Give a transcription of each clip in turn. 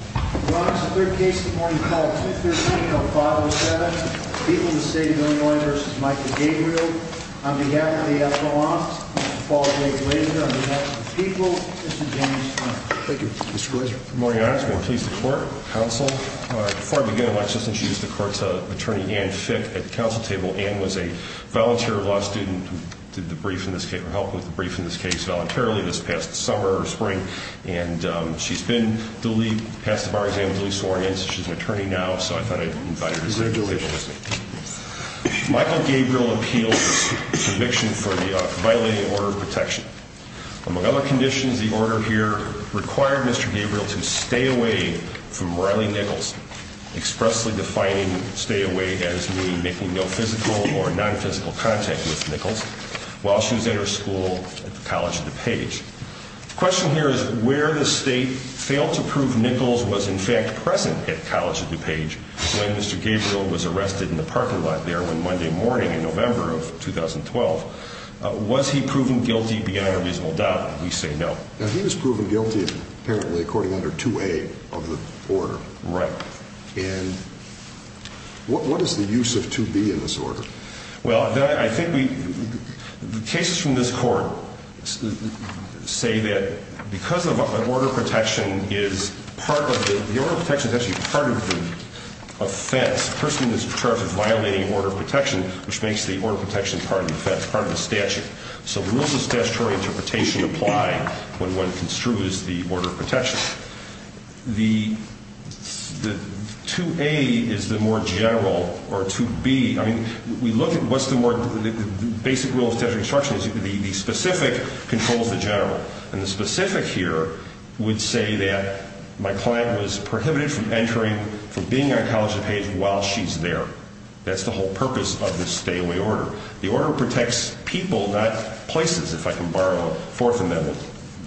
on behalf of the F.O.O.N.S., Mr. Paul J. Glazer, on behalf of the people, Mr. James Frank. Thank you, Mr. Glazer. Good morning, Your Honor. I just want to please the court, counsel. Before I begin, I'd like to just introduce the court's attorney, Ann Fick, at the counsel table. Ann was a volunteer law student who did the brief in this case, or helped with the brief in this case voluntarily this past summer or spring. And she's been delieved, passed the bar exam, delieved sworn in, so she's an attorney now, so I thought I'd invite her to sit at the table with me. Michael Gabriel appeals his conviction for the violating order of protection. Among other conditions, the order here required Mr. Gabriel to stay away from Riley Nichols, expressly defining stay away as me making no physical or non-physical contact with Nichols while she was at her school at the College of DuPage. The question here is where the state failed to prove Nichols was, in fact, present at College of DuPage when Mr. Gabriel was arrested in the parking lot there on Monday morning in November of 2012. Was he proven guilty beyond a reasonable doubt? We say no. Now, he was proven guilty, apparently, according under 2A of the order. Right. Well, I think we, the cases from this court say that because of an order of protection is part of the, the order of protection is actually part of the offense. The person is charged with violating order of protection, which makes the order of protection part of the offense, part of the statute. So will the statutory interpretation apply when one construes the order of protection? The 2A is the more general, or 2B, I mean, we look at what's the more, the basic rule of statutory instruction is the specific controls the general. And the specific here would say that my client was prohibited from entering, from being at College of DuPage while she's there. That's the whole purpose of this stay away order. The order protects people, not places, if I can borrow a fourth amendment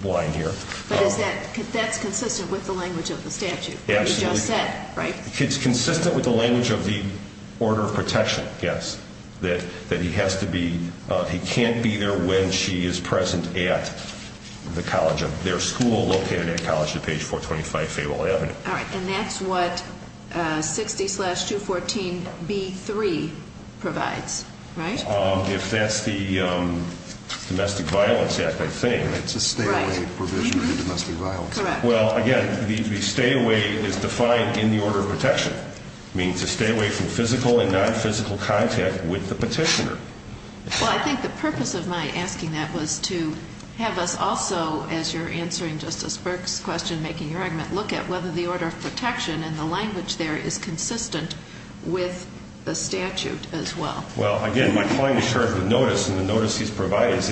line here. But is that, that's consistent with the language of the statute that you just said, right? It's consistent with the language of the order of protection, yes. That he has to be, he can't be there when she is present at the college, their school located at College of DuPage 425 Fayetteville Avenue. All right, and that's what 60-214-B3 provides, right? If that's the Domestic Violence Act, I think. Right, it's a stay away provision for domestic violence. Correct. Well, again, the stay away is defined in the order of protection. It means to stay away from physical and non-physical contact with the petitioner. Well, I think the purpose of my asking that was to have us also, as you're answering Justice Burke's question, making your argument, look at whether the order of protection and the language there is consistent with the statute as well. Well, again, my client is charged with notice, and the notice he's provided is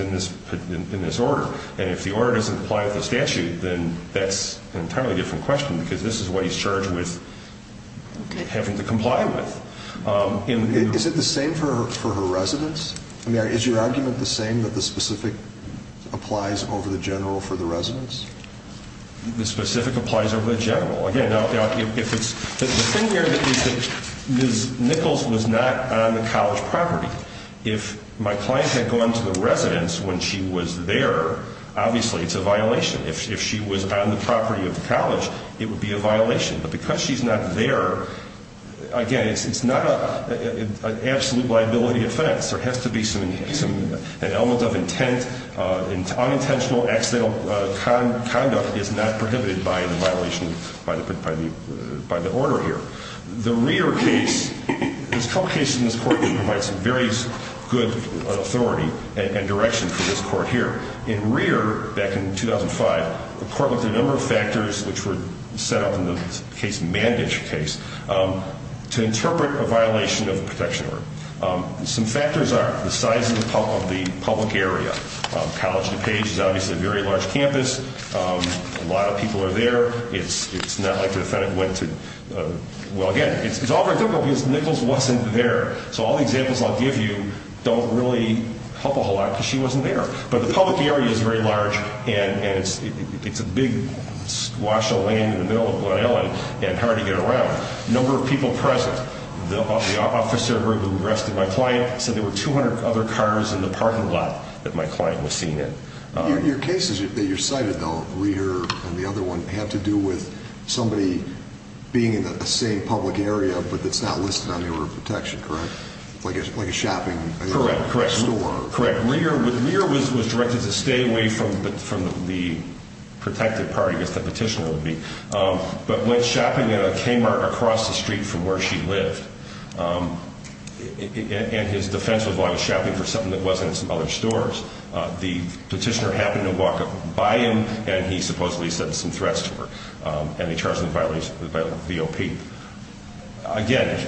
in this order. And if the order doesn't apply with the statute, then that's an entirely different question, because this is what he's charged with having to comply with. Is it the same for her residence? I mean, is your argument the same that the specific applies over the general for the residence? The specific applies over the general. Again, the thing here is that Ms. Nichols was not on the college property. If my client had gone to the residence when she was there, obviously it's a violation. If she was on the property of the college, it would be a violation. But because she's not there, again, it's not an absolute liability offense. There has to be an element of intent. Unintentional, accidental conduct is not prohibited by the violation, by the order here. The Rear case, there's a couple cases in this court that provide some very good authority and direction for this court here. In Rear, back in 2005, the court looked at a number of factors which were set up in the case, Mandage case, to interpret a violation of the protection order. Some factors are the size of the public area. College DuPage is obviously a very large campus. A lot of people are there. It's not like the defendant went to, well, again, it's all very difficult because Nichols wasn't there. So all the examples I'll give you don't really help a whole lot because she wasn't there. But the public area is very large, and it's a big squash of land in the middle of Glen Ellyn, and hard to get around. Number of people present. The officer who arrested my client said there were 200 other cars in the parking lot that my client was seen in. Your cases that you cited, though, Rear and the other one, had to do with somebody being in the same public area but that's not listed on the order of protection, correct? Like a shopping store. Correct. Rear was directed to stay away from the protected part, I guess the petitioner would be. But went shopping at a K-Mart across the street from where she lived. And his defense was while he was shopping for something that wasn't at some other stores, the petitioner happened to walk up by him, and he supposedly sent some threats to her. And they charged him with violating the V.O.P. Again,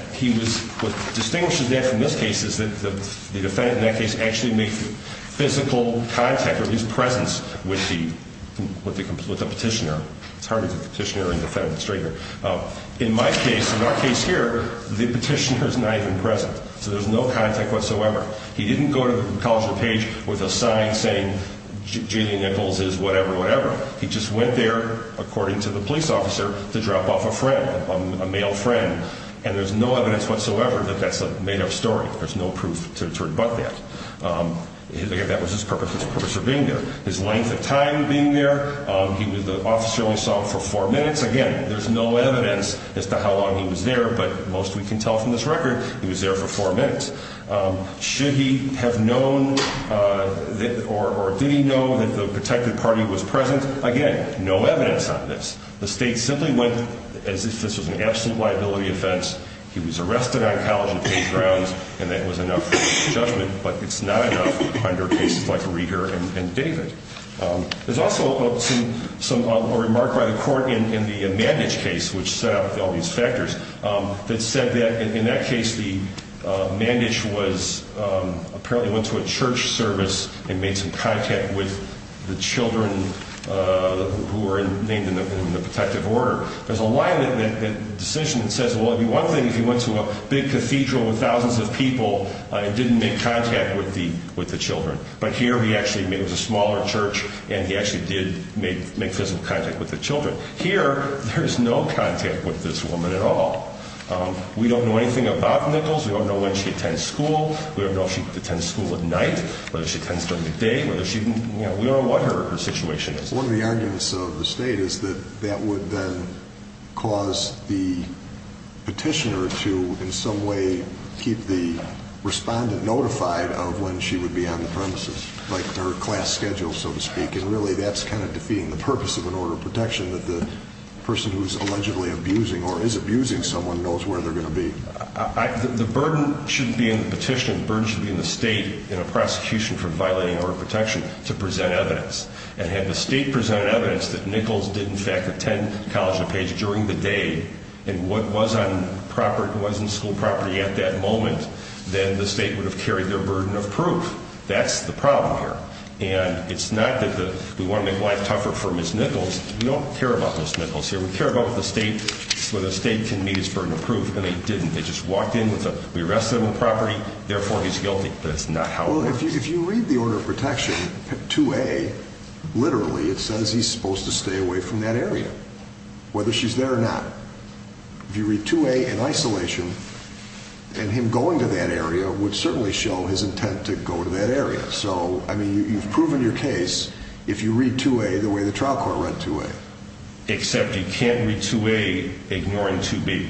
what distinguishes that from this case is that the defendant in that case actually made physical contact, or his presence, with the petitioner. It's hard to get the petitioner and defendant straight here. In my case, in our case here, the petitioner is not even present. So there's no contact whatsoever. He didn't go to the College of DuPage with a sign saying J. Lee Nichols is whatever, whatever. He just went there, according to the police officer, to drop off a friend, a male friend. And there's no evidence whatsoever that that's a made-up story. There's no proof to rebut that. That was his purpose for being there. His length of time being there, the officer only saw him for four minutes. Again, there's no evidence as to how long he was there, but most we can tell from this record he was there for four minutes. Should he have known or did he know that the protected party was present? Again, no evidence on this. The state simply went as if this was an absolute liability offense. He was arrested on College of DuPage grounds, and that was enough for his judgment, but it's not enough under cases like Reeder and David. There's also a remark by the court in the Mandich case, which set out all these factors, that said that in that case the Mandich apparently went to a church service and made some contact with the children who were named in the protective order. There's a line in that decision that says, well, one thing if he went to a big cathedral with thousands of people and didn't make contact with the children, but here he actually made, it was a smaller church, and he actually did make physical contact with the children. Here there is no contact with this woman at all. We don't know anything about Nichols. We don't know when she attends school. We don't know if she attends school at night, whether she attends during the day. We don't know what her situation is. One of the arguments of the state is that that would then cause the petitioner to in some way keep the respondent notified of when she would be on the premises, like her class schedule, so to speak, and really that's kind of defeating the purpose of an order of protection, that the person who is allegedly abusing or is abusing someone knows where they're going to be. The burden shouldn't be in the petition. The burden should be in the state in a prosecution for violating an order of protection to present evidence. And had the state presented evidence that Nichols did in fact attend College of Page during the day and was on school property at that moment, then the state would have carried their burden of proof. That's the problem here. And it's not that we want to make life tougher for Ms. Nichols. We don't care about Ms. Nichols here. We care about the state, whether the state can meet its burden of proof, and they didn't. They just walked in with a, we arrested him on property, therefore he's guilty. That's not how it works. Well, if you read the order of protection, 2A, literally it says he's supposed to stay away from that area, whether she's there or not. If you read 2A in isolation, and him going to that area would certainly show his intent to go to that area. So, I mean, you've proven your case if you read 2A the way the trial court read 2A. Except you can't read 2A ignoring 2B.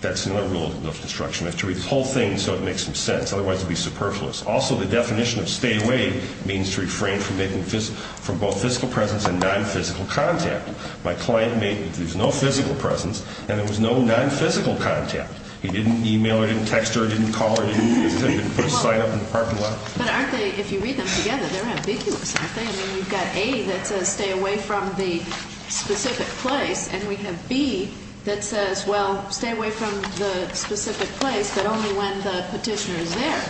That's another rule of construction. You have to read the whole thing so it makes some sense. Otherwise, it would be superfluous. Also, the definition of stay away means to refrain from both physical presence and nonphysical contact. My client made, there's no physical presence, and there was no nonphysical contact. He didn't e-mail her, didn't text her, didn't call her, didn't put a sign up in the parking lot. But aren't they, if you read them together, they're ambiguous, aren't they? I mean, you've got A that says stay away from the specific place, and we have B that says, well, stay away from the specific place, but only when the petitioner is there.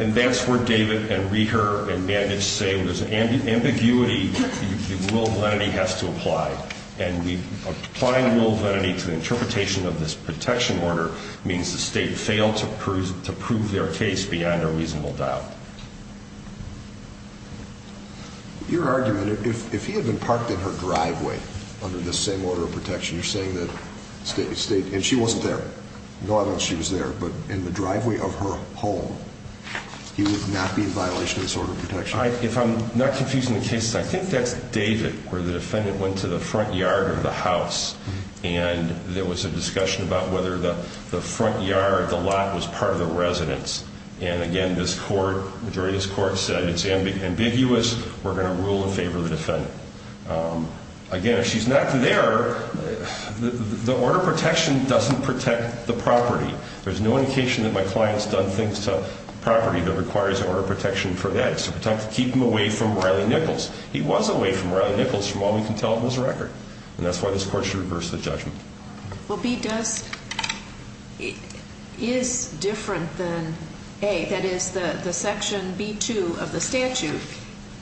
And that's where David and Reher and Bandage say there's ambiguity. The rule of lenity has to apply. And applying the rule of lenity to the interpretation of this protection order means the state failed to prove their case beyond a reasonable doubt. Your argument, if he had been parked in her driveway under this same order of protection, you're saying that the state, and she wasn't there. No, I don't know if she was there, but in the driveway of her home, he would not be in violation of this order of protection. If I'm not confusing the cases, I think that's David, where the defendant went to the front yard of the house, and there was a discussion about whether the front yard, the lot, was part of the residence. And, again, this court, majority of this court, said it's ambiguous. We're going to rule in favor of the defendant. Again, if she's not there, the order of protection doesn't protect the property. There's no indication that my client's done things to property that requires an order of protection for that. It's to keep him away from Riley Nichols. He was away from Riley Nichols from all we can tell in this record, and that's why this court should reverse the judgment. Well, B does, is different than A. That is, the section B2 of the statute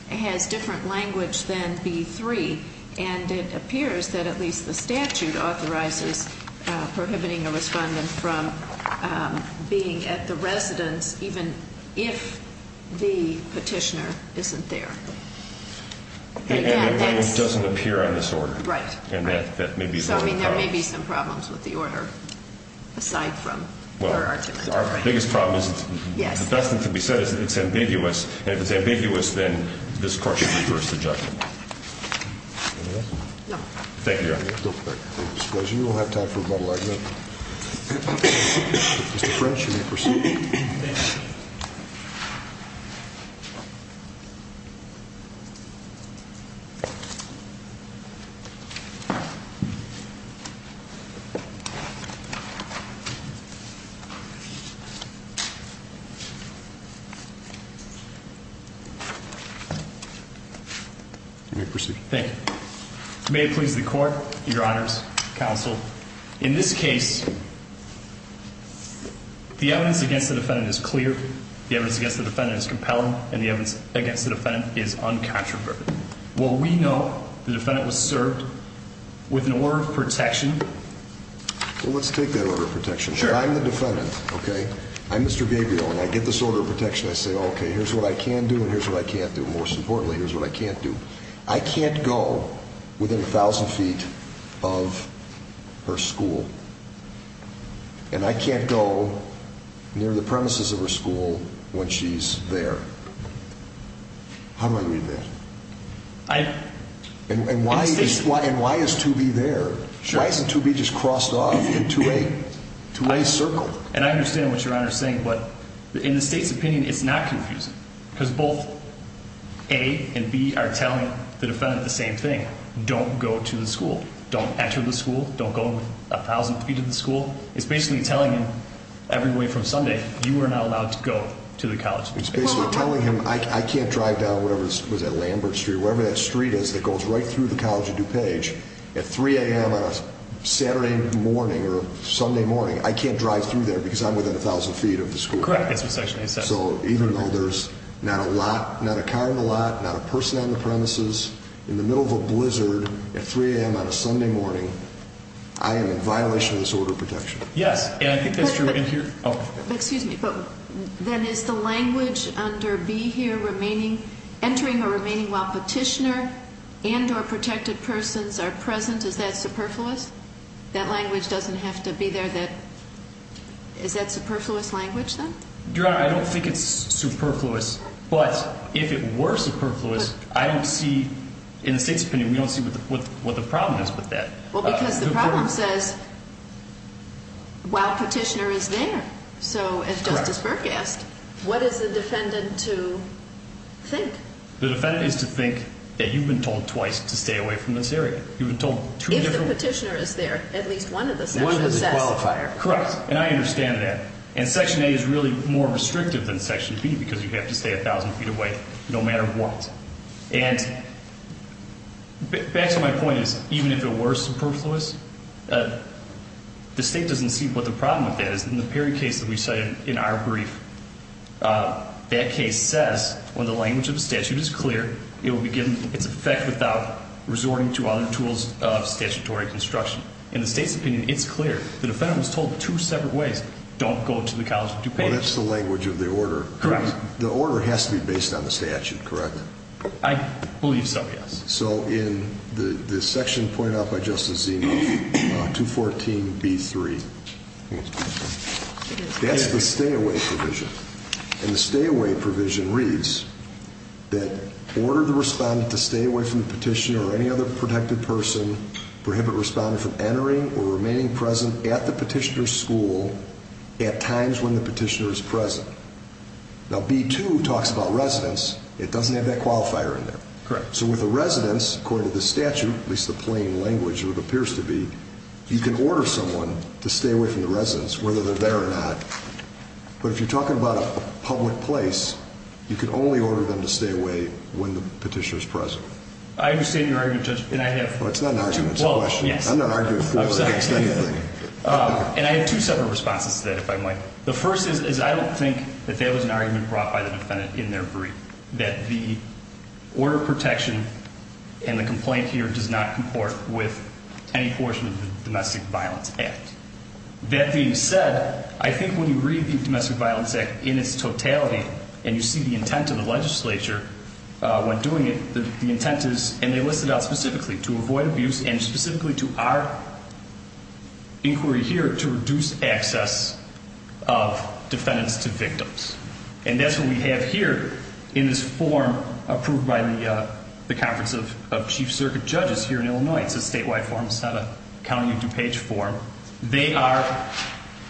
has different language than B3, and it appears that at least the statute authorizes prohibiting a respondent from being at the residence, even if the petitioner isn't there. And the claim doesn't appear on this order. Right. So, I mean, there may be some problems with the order aside from her argument. Well, our biggest problem is the best thing to be said is that it's ambiguous, and if it's ambiguous, then this court should reverse the judgment. Anything else? No. Thank you, Your Honor. I suppose you don't have time for rebuttal, I do. Mr. French, you may proceed. I'll make my rebuttal. You may proceed. Thank you. May it please the Court, Your Honors, Counsel, in this case, the evidence against the defendant is clear, the evidence against the defendant is compelling, and the evidence against the defendant is uncontroverted. Well, we know the defendant was served with an order of protection. Well, let's take that order of protection. Sure. I'm the defendant, okay? I'm Mr. Gabriel, and I get this order of protection. I say, okay, here's what I can do and here's what I can't do. Most importantly, here's what I can't do. I can't go within a thousand feet of her school. And I can't go near the premises of her school when she's there. How do I read that? And why is 2B there? Why isn't 2B just crossed off into a circle? And I understand what Your Honor is saying, but in the State's opinion, it's not confusing. Because both A and B are telling the defendant the same thing. Don't go to the school. Don't enter the school. Don't go within a thousand feet of the school. It's basically telling him every way from Sunday, you are not allowed to go to the college. It's basically telling him I can't drive down whatever that street is that goes right through the College of DuPage at 3 a.m. on a Saturday morning or Sunday morning. I can't drive through there because I'm within a thousand feet of the school. Correct. So even though there's not a car in the lot, not a person on the premises, in the middle of a blizzard at 3 a.m. on a Sunday morning, I am in violation of this order of protection. Yes, and I think that's true in here. Excuse me, but then is the language under B here, entering or remaining while petitioner and or protected persons are present, is that superfluous? That language doesn't have to be there. Is that superfluous language then? Your Honor, I don't think it's superfluous. But if it were superfluous, I don't see, in the State's opinion, we don't see what the problem is with that. Well, because the problem says while petitioner is there. So as Justice Burke asked, what is the defendant to think? The defendant is to think that you've been told twice to stay away from this area. If the petitioner is there, at least one of the sections says. One of the qualifiers. Correct, and I understand that. And Section A is really more restrictive than Section B because you have to stay 1,000 feet away no matter what. And back to my point is even if it were superfluous, the State doesn't see what the problem with that is. In the Perry case that we cited in our brief, that case says when the language of the statute is clear, it will be given its effect without resorting to other tools of statutory construction. In the State's opinion, it's clear. The defendant was told two separate ways. Don't go to the College of DuPage. Well, that's the language of the order. Correct. The order has to be based on the statute, correct? I believe so, yes. So in the section pointed out by Justice Zinoff, 214B3, that's the stay away provision. And the stay away provision reads that order the respondent to stay away from the petitioner or any other protected person, prohibit respondent from entering or remaining present at the petitioner's school at times when the petitioner is present. Now, B2 talks about residence. It doesn't have that qualifier in there. Correct. So with a residence, according to the statute, at least the plain language, or it appears to be, you can order someone to stay away from the residence whether they're there or not. But if you're talking about a public place, you can only order them to stay away when the petitioner is present. I understand your argument, Judge, and I have— Well, it's not an argument. It's a question. I'm not arguing for or against anything. And I have two separate responses to that, if I might. The first is I don't think that that was an argument brought by the defendant in their brief, that the order of protection and the complaint here does not comport with any portion of the Domestic Violence Act. That being said, I think when you read the Domestic Violence Act in its totality and you see the intent of the legislature when doing it, the intent is, and they list it out specifically, to avoid abuse and specifically to our inquiry here to reduce access of defendants to victims. And that's what we have here in this form approved by the Conference of Chief Circuit Judges here in Illinois. It's a statewide form. It's not a county or DuPage form. They are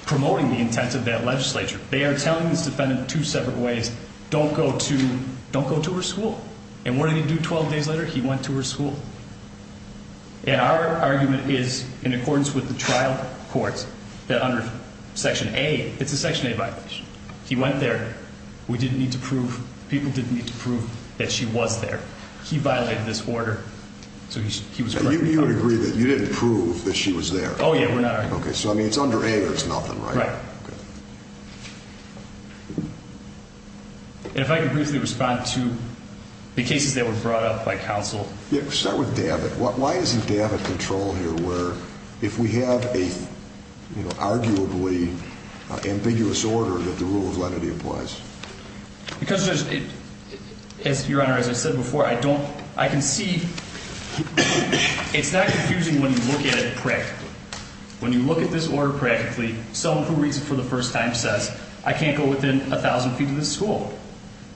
promoting the intent of that legislature. They are telling this defendant two separate ways. Don't go to her school. And what did he do 12 days later? He went to her school. And our argument is, in accordance with the trial courts, that under Section A, it's a Section A violation. He went there. We didn't need to prove, people didn't need to prove that she was there. He violated this order, so he was brought to court. And you would agree that you didn't prove that she was there? Oh, yeah, we're not arguing. Okay, so, I mean, it's under A or it's nothing, right? Right. And if I could briefly respond to the cases that were brought up by counsel. Yeah, let's start with Davit. Why isn't Davit in control here where if we have an arguably ambiguous order that the rule of lenity applies? Because, Your Honor, as I said before, I don't, I can see, it's not confusing when you look at it practically. When you look at this order practically, someone who reads it for the first time says, I can't go within 1,000 feet of this school.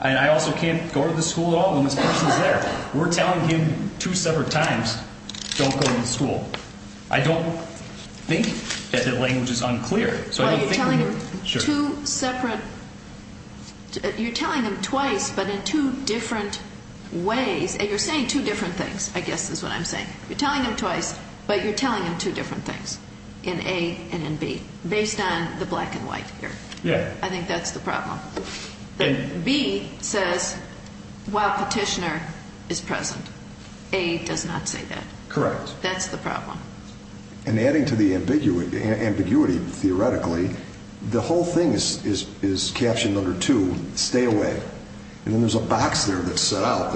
And I also can't go to this school at all when this person is there. We're telling him two separate times, don't go to this school. I don't think that the language is unclear. Well, you're telling him two separate, you're telling him twice but in two different ways. And you're saying two different things, I guess is what I'm saying. You're telling him twice but you're telling him two different things, in A and in B, based on the black and white here. Yeah. I think that's the problem. And B says while petitioner is present. A does not say that. Correct. That's the problem. And adding to the ambiguity theoretically, the whole thing is captioned under two, stay away. And then there's a box there that's set out,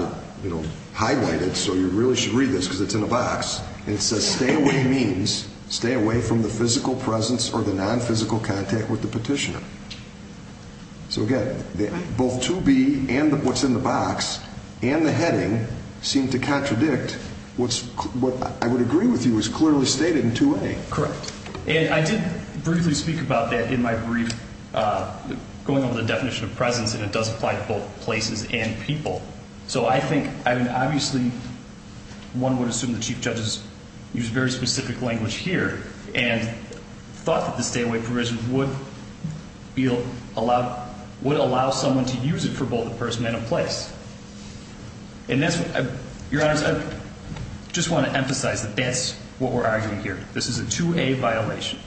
highlighted, so you really should read this because it's in a box. And it says stay away means stay away from the physical presence or the nonphysical contact with the petitioner. So, again, both 2B and what's in the box and the heading seem to contradict what I would agree with you is clearly stated in 2A. Correct. And I did briefly speak about that in my brief, going over the definition of presence, and it does apply to both places and people. So I think, I mean, obviously, one would assume the Chief Judges use very specific language here and thought that the stay away provision would allow someone to use it for both the person and a place. And that's what, Your Honors, I just want to emphasize that that's what we're arguing here. This is a 2A violation.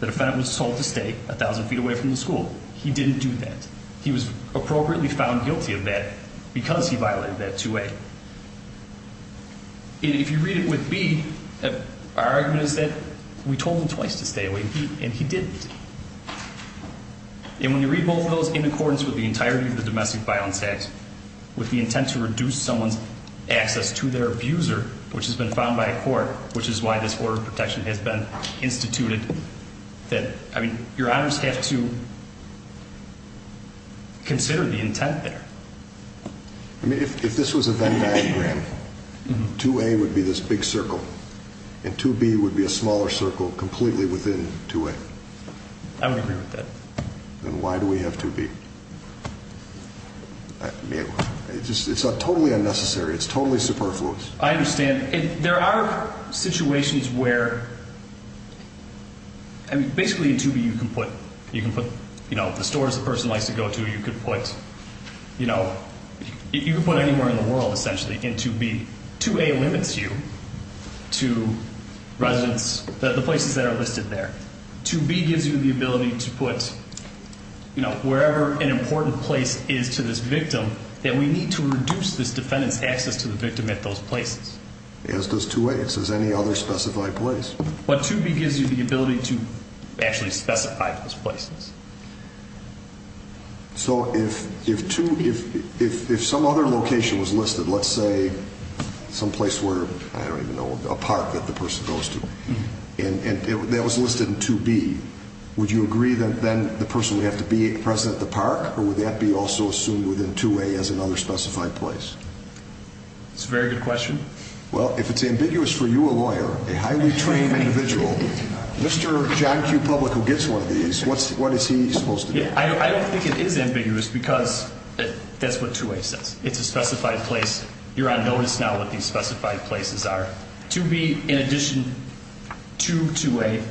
The defendant was told to stay 1,000 feet away from the school. He didn't do that. He was appropriately found guilty of that because he violated that 2A. If you read it with B, our argument is that we told him twice to stay away, and he didn't. And when you read both of those in accordance with the entirety of the domestic violence act, with the intent to reduce someone's access to their abuser, which has been found by a court, which is why this order of protection has been instituted, that, I mean, Your Honors have to consider the intent there. I mean, if this was a Venn diagram, 2A would be this big circle, and 2B would be a smaller circle completely within 2A. I would agree with that. Then why do we have 2B? It's totally unnecessary. It's totally superfluous. I understand. There are situations where, I mean, basically in 2B you can put, you know, the stores a person likes to go to, you can put, you know, you can put anywhere in the world, essentially, in 2B. 2A limits you to residents, the places that are listed there. 2B gives you the ability to put, you know, wherever an important place is to this victim, that we need to reduce this defendant's access to the victim at those places. As does 2A. As does any other specified place. But 2B gives you the ability to actually specify those places. So if some other location was listed, let's say some place where, I don't even know, a park that the person goes to, and that was listed in 2B, would you agree that then the person would have to be present at the park, or would that be also assumed within 2A as another specified place? That's a very good question. Well, if it's ambiguous for you, a lawyer, a highly trained individual, Mr. John Q. Public, who gets one of these, what is he supposed to do? I don't think it is ambiguous because that's what 2A says. It's a specified place. You're on notice now what these specified places are. 2B, in addition to 2A,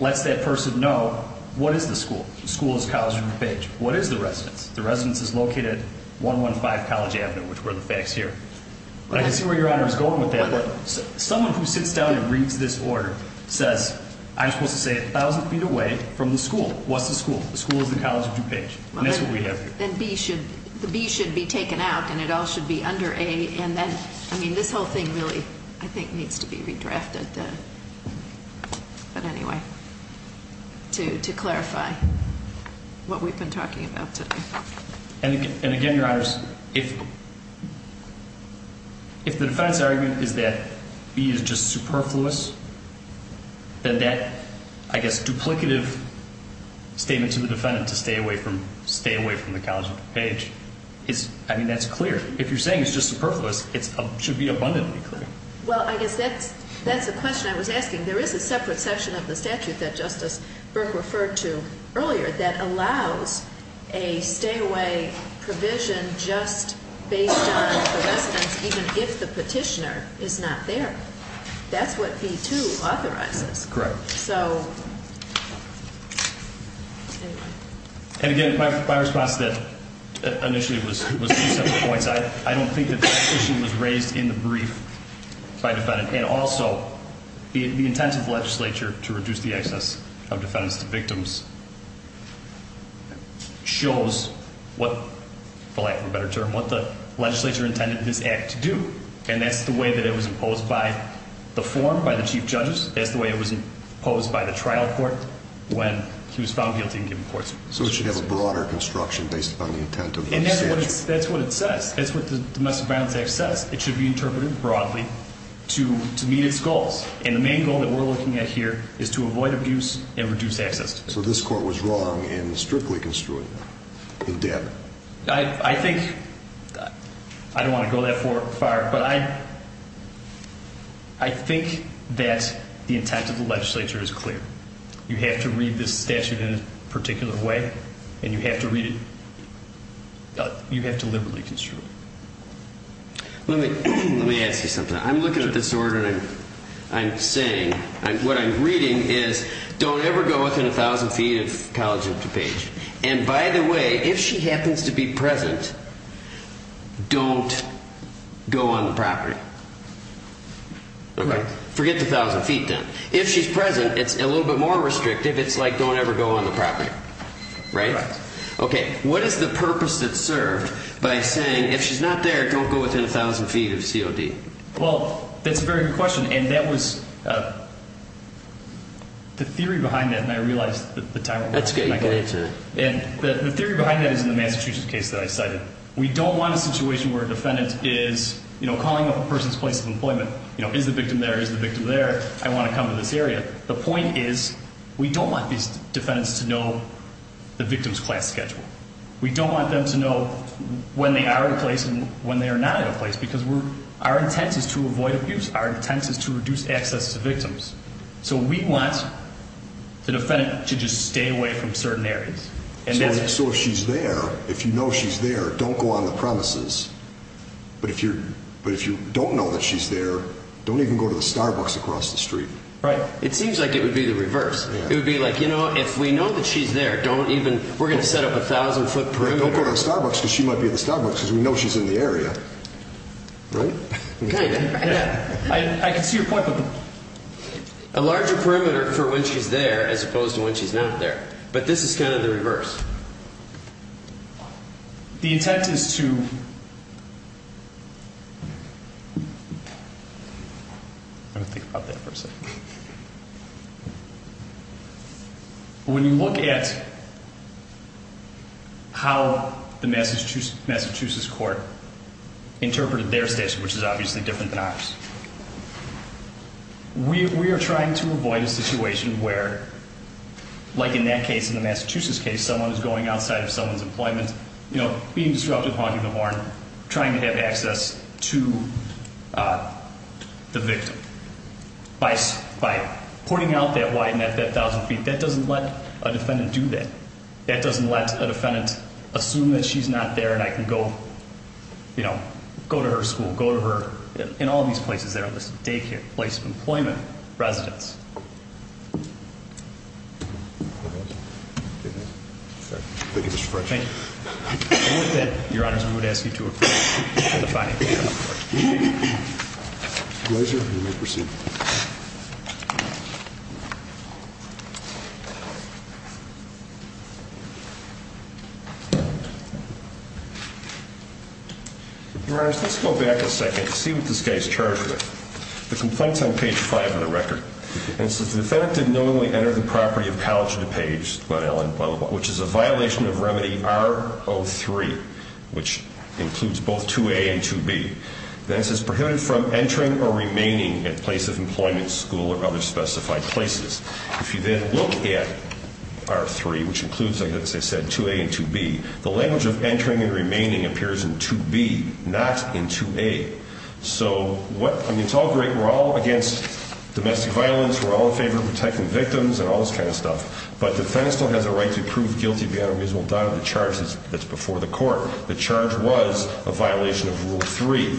lets that person know what is the school. The school is College Road and Page. What is the residence? The residence is located at 115 College Avenue, which were the facts here. I can see where Your Honor is going with that. But someone who sits down and reads this order says, I'm supposed to say 1,000 feet away from the school. What's the school? The school is the College of DuPage. And that's what we have here. Then the B should be taken out, and it all should be under A. And then, I mean, this whole thing really, I think, needs to be redrafted. But anyway, to clarify what we've been talking about today. And again, Your Honors, if the defendant's argument is that B is just superfluous, then that, I guess, duplicative statement to the defendant to stay away from the College of DuPage, I mean, that's clear. If you're saying it's just superfluous, it should be abundantly clear. Well, I guess that's the question I was asking. There is a separate section of the statute that Justice Burke referred to earlier that allows a stay-away provision just based on the residence, even if the petitioner is not there. That's what B2 authorizes. Correct. So anyway. And again, my response to that initially was two separate points. I don't think that that issue was raised in the brief by the defendant. And also, the intent of the legislature to reduce the access of defendants to victims shows what, for lack of a better term, what the legislature intended this act to do. And that's the way that it was imposed by the forum, by the chief judges. That's the way it was imposed by the trial court when he was found guilty and given courtship. So it should have a broader construction based upon the intent of the statute. And that's what it says. That's what the Domestic Violence Act says. It should be interpreted broadly to meet its goals. And the main goal that we're looking at here is to avoid abuse and reduce access to victims. So this court was wrong in strictly construing it in damage. I think – I don't want to go that far, but I think that the intent of the legislature is clear. You have to read this statute in a particular way, and you have to read it – you have to liberally construe it. Let me ask you something. I'm looking at this order and I'm saying – what I'm reading is don't ever go within 1,000 feet of College of DuPage. And by the way, if she happens to be present, don't go on the property. Forget the 1,000 feet then. If she's present, it's a little bit more restrictive. It's like don't ever go on the property. Right? Right. Okay. What is the purpose that's served by saying if she's not there, don't go within 1,000 feet of COD? Well, that's a very good question. And that was – the theory behind that – and I realize the time – That's okay. You can answer it. The theory behind that is in the Massachusetts case that I cited. We don't want a situation where a defendant is calling up a person's place of employment. Is the victim there? Is the victim there? I want to come to this area. The point is we don't want these defendants to know the victim's class schedule. We don't want them to know when they are in a place and when they are not in a place because our intent is to avoid abuse. Our intent is to reduce access to victims. So we want the defendant to just stay away from certain areas. So if she's there, if you know she's there, don't go on the premises. But if you don't know that she's there, don't even go to the Starbucks across the street. Right. It seems like it would be the reverse. It would be like, you know, if we know that she's there, don't even – we're going to set up a 1,000-foot perimeter. Don't go to the Starbucks because she might be at the Starbucks because we know she's in the area. Right? Kind of. I can see your point. A larger perimeter for when she's there as opposed to when she's not there. But this is kind of the reverse. The intent is to – let me think about that for a second. When you look at how the Massachusetts court interpreted their statute, which is obviously different than ours, we are trying to avoid a situation where, like in that case, in the Massachusetts case, someone is going outside of someone's employment, you know, being disruptive, honking the horn, trying to have access to the victim. By pointing out that widened at that 1,000 feet, that doesn't let a defendant do that. That doesn't let a defendant assume that she's not there and I can go, you know, go to her school, go to her – in all these places that are listed, daycare, place of employment, residence. Thank you, Mr. French. Thank you. With that, Your Honors, I would ask you to adjourn for the final hearing. Pleasure. You may proceed. Your Honors, let's go back a second to see what this guy is charged with. The complaint is on page 5 of the record. And it says the defendant did not only enter the property of College of DuPage, which is a violation of remedy R03, which includes both 2A and 2B. Then it says prohibited from entering or remaining at place of employment, school, or other specified places. If you then look at R03, which includes, like I said, 2A and 2B, the language of entering and remaining appears in 2B, not in 2A. So what – I mean, it's all great. We're all against domestic violence. We're all in favor of protecting victims and all this kind of stuff. But the defendant still has a right to prove guilty beyond a reasonable doubt of the charges that's before the court. The charge was a violation of Rule 3.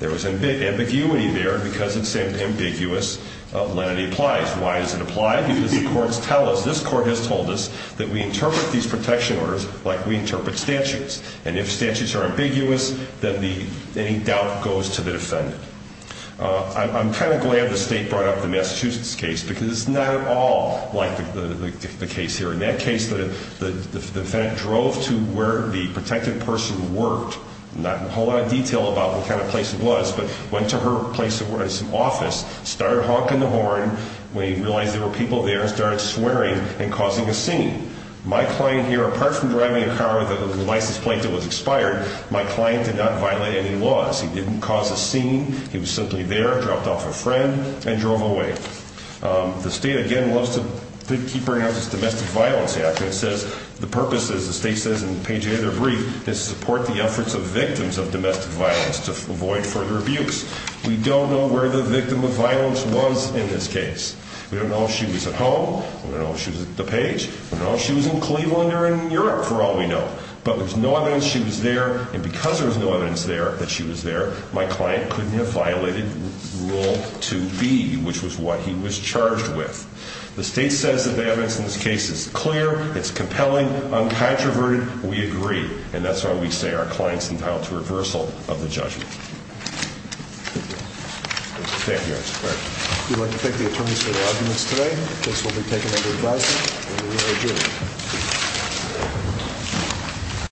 There was ambiguity there because it said ambiguous. Let it apply. Why does it apply? Because the courts tell us – this court has told us that we interpret these protection orders like we interpret statutes. And if statutes are ambiguous, then any doubt goes to the defendant. I'm kind of glad the state brought up the Massachusetts case because it's not at all like the case here. In that case, the defendant drove to where the protective person worked, not in a whole lot of detail about what kind of place it was, but went to her place of office, started honking the horn. When he realized there were people there, he started swearing and causing a scene. My client here, apart from driving a car with a license plate that was expired, my client did not violate any laws. He didn't cause a scene. He was simply there, dropped off a friend, and drove away. The state, again, loves to keep bringing up this Domestic Violence Act. It says the purpose, as the state says in page 8 of their brief, is to support the efforts of victims of domestic violence to avoid further abuse. We don't know where the victim of violence was in this case. We don't know if she was at home. We don't know if she was at the page. We don't know if she was in Cleveland or in Europe, for all we know. But there's no evidence she was there. And because there was no evidence there that she was there, my client couldn't have violated Rule 2B, which was what he was charged with. The state says that the evidence in this case is clear, it's compelling, uncontroverted. We agree, and that's why we say our client's entitled to reversal of the judgment. Thank you. Thank you, Your Honor. We'd like to thank the attorneys for their arguments today. This will be taken under advisement, and we are adjourned.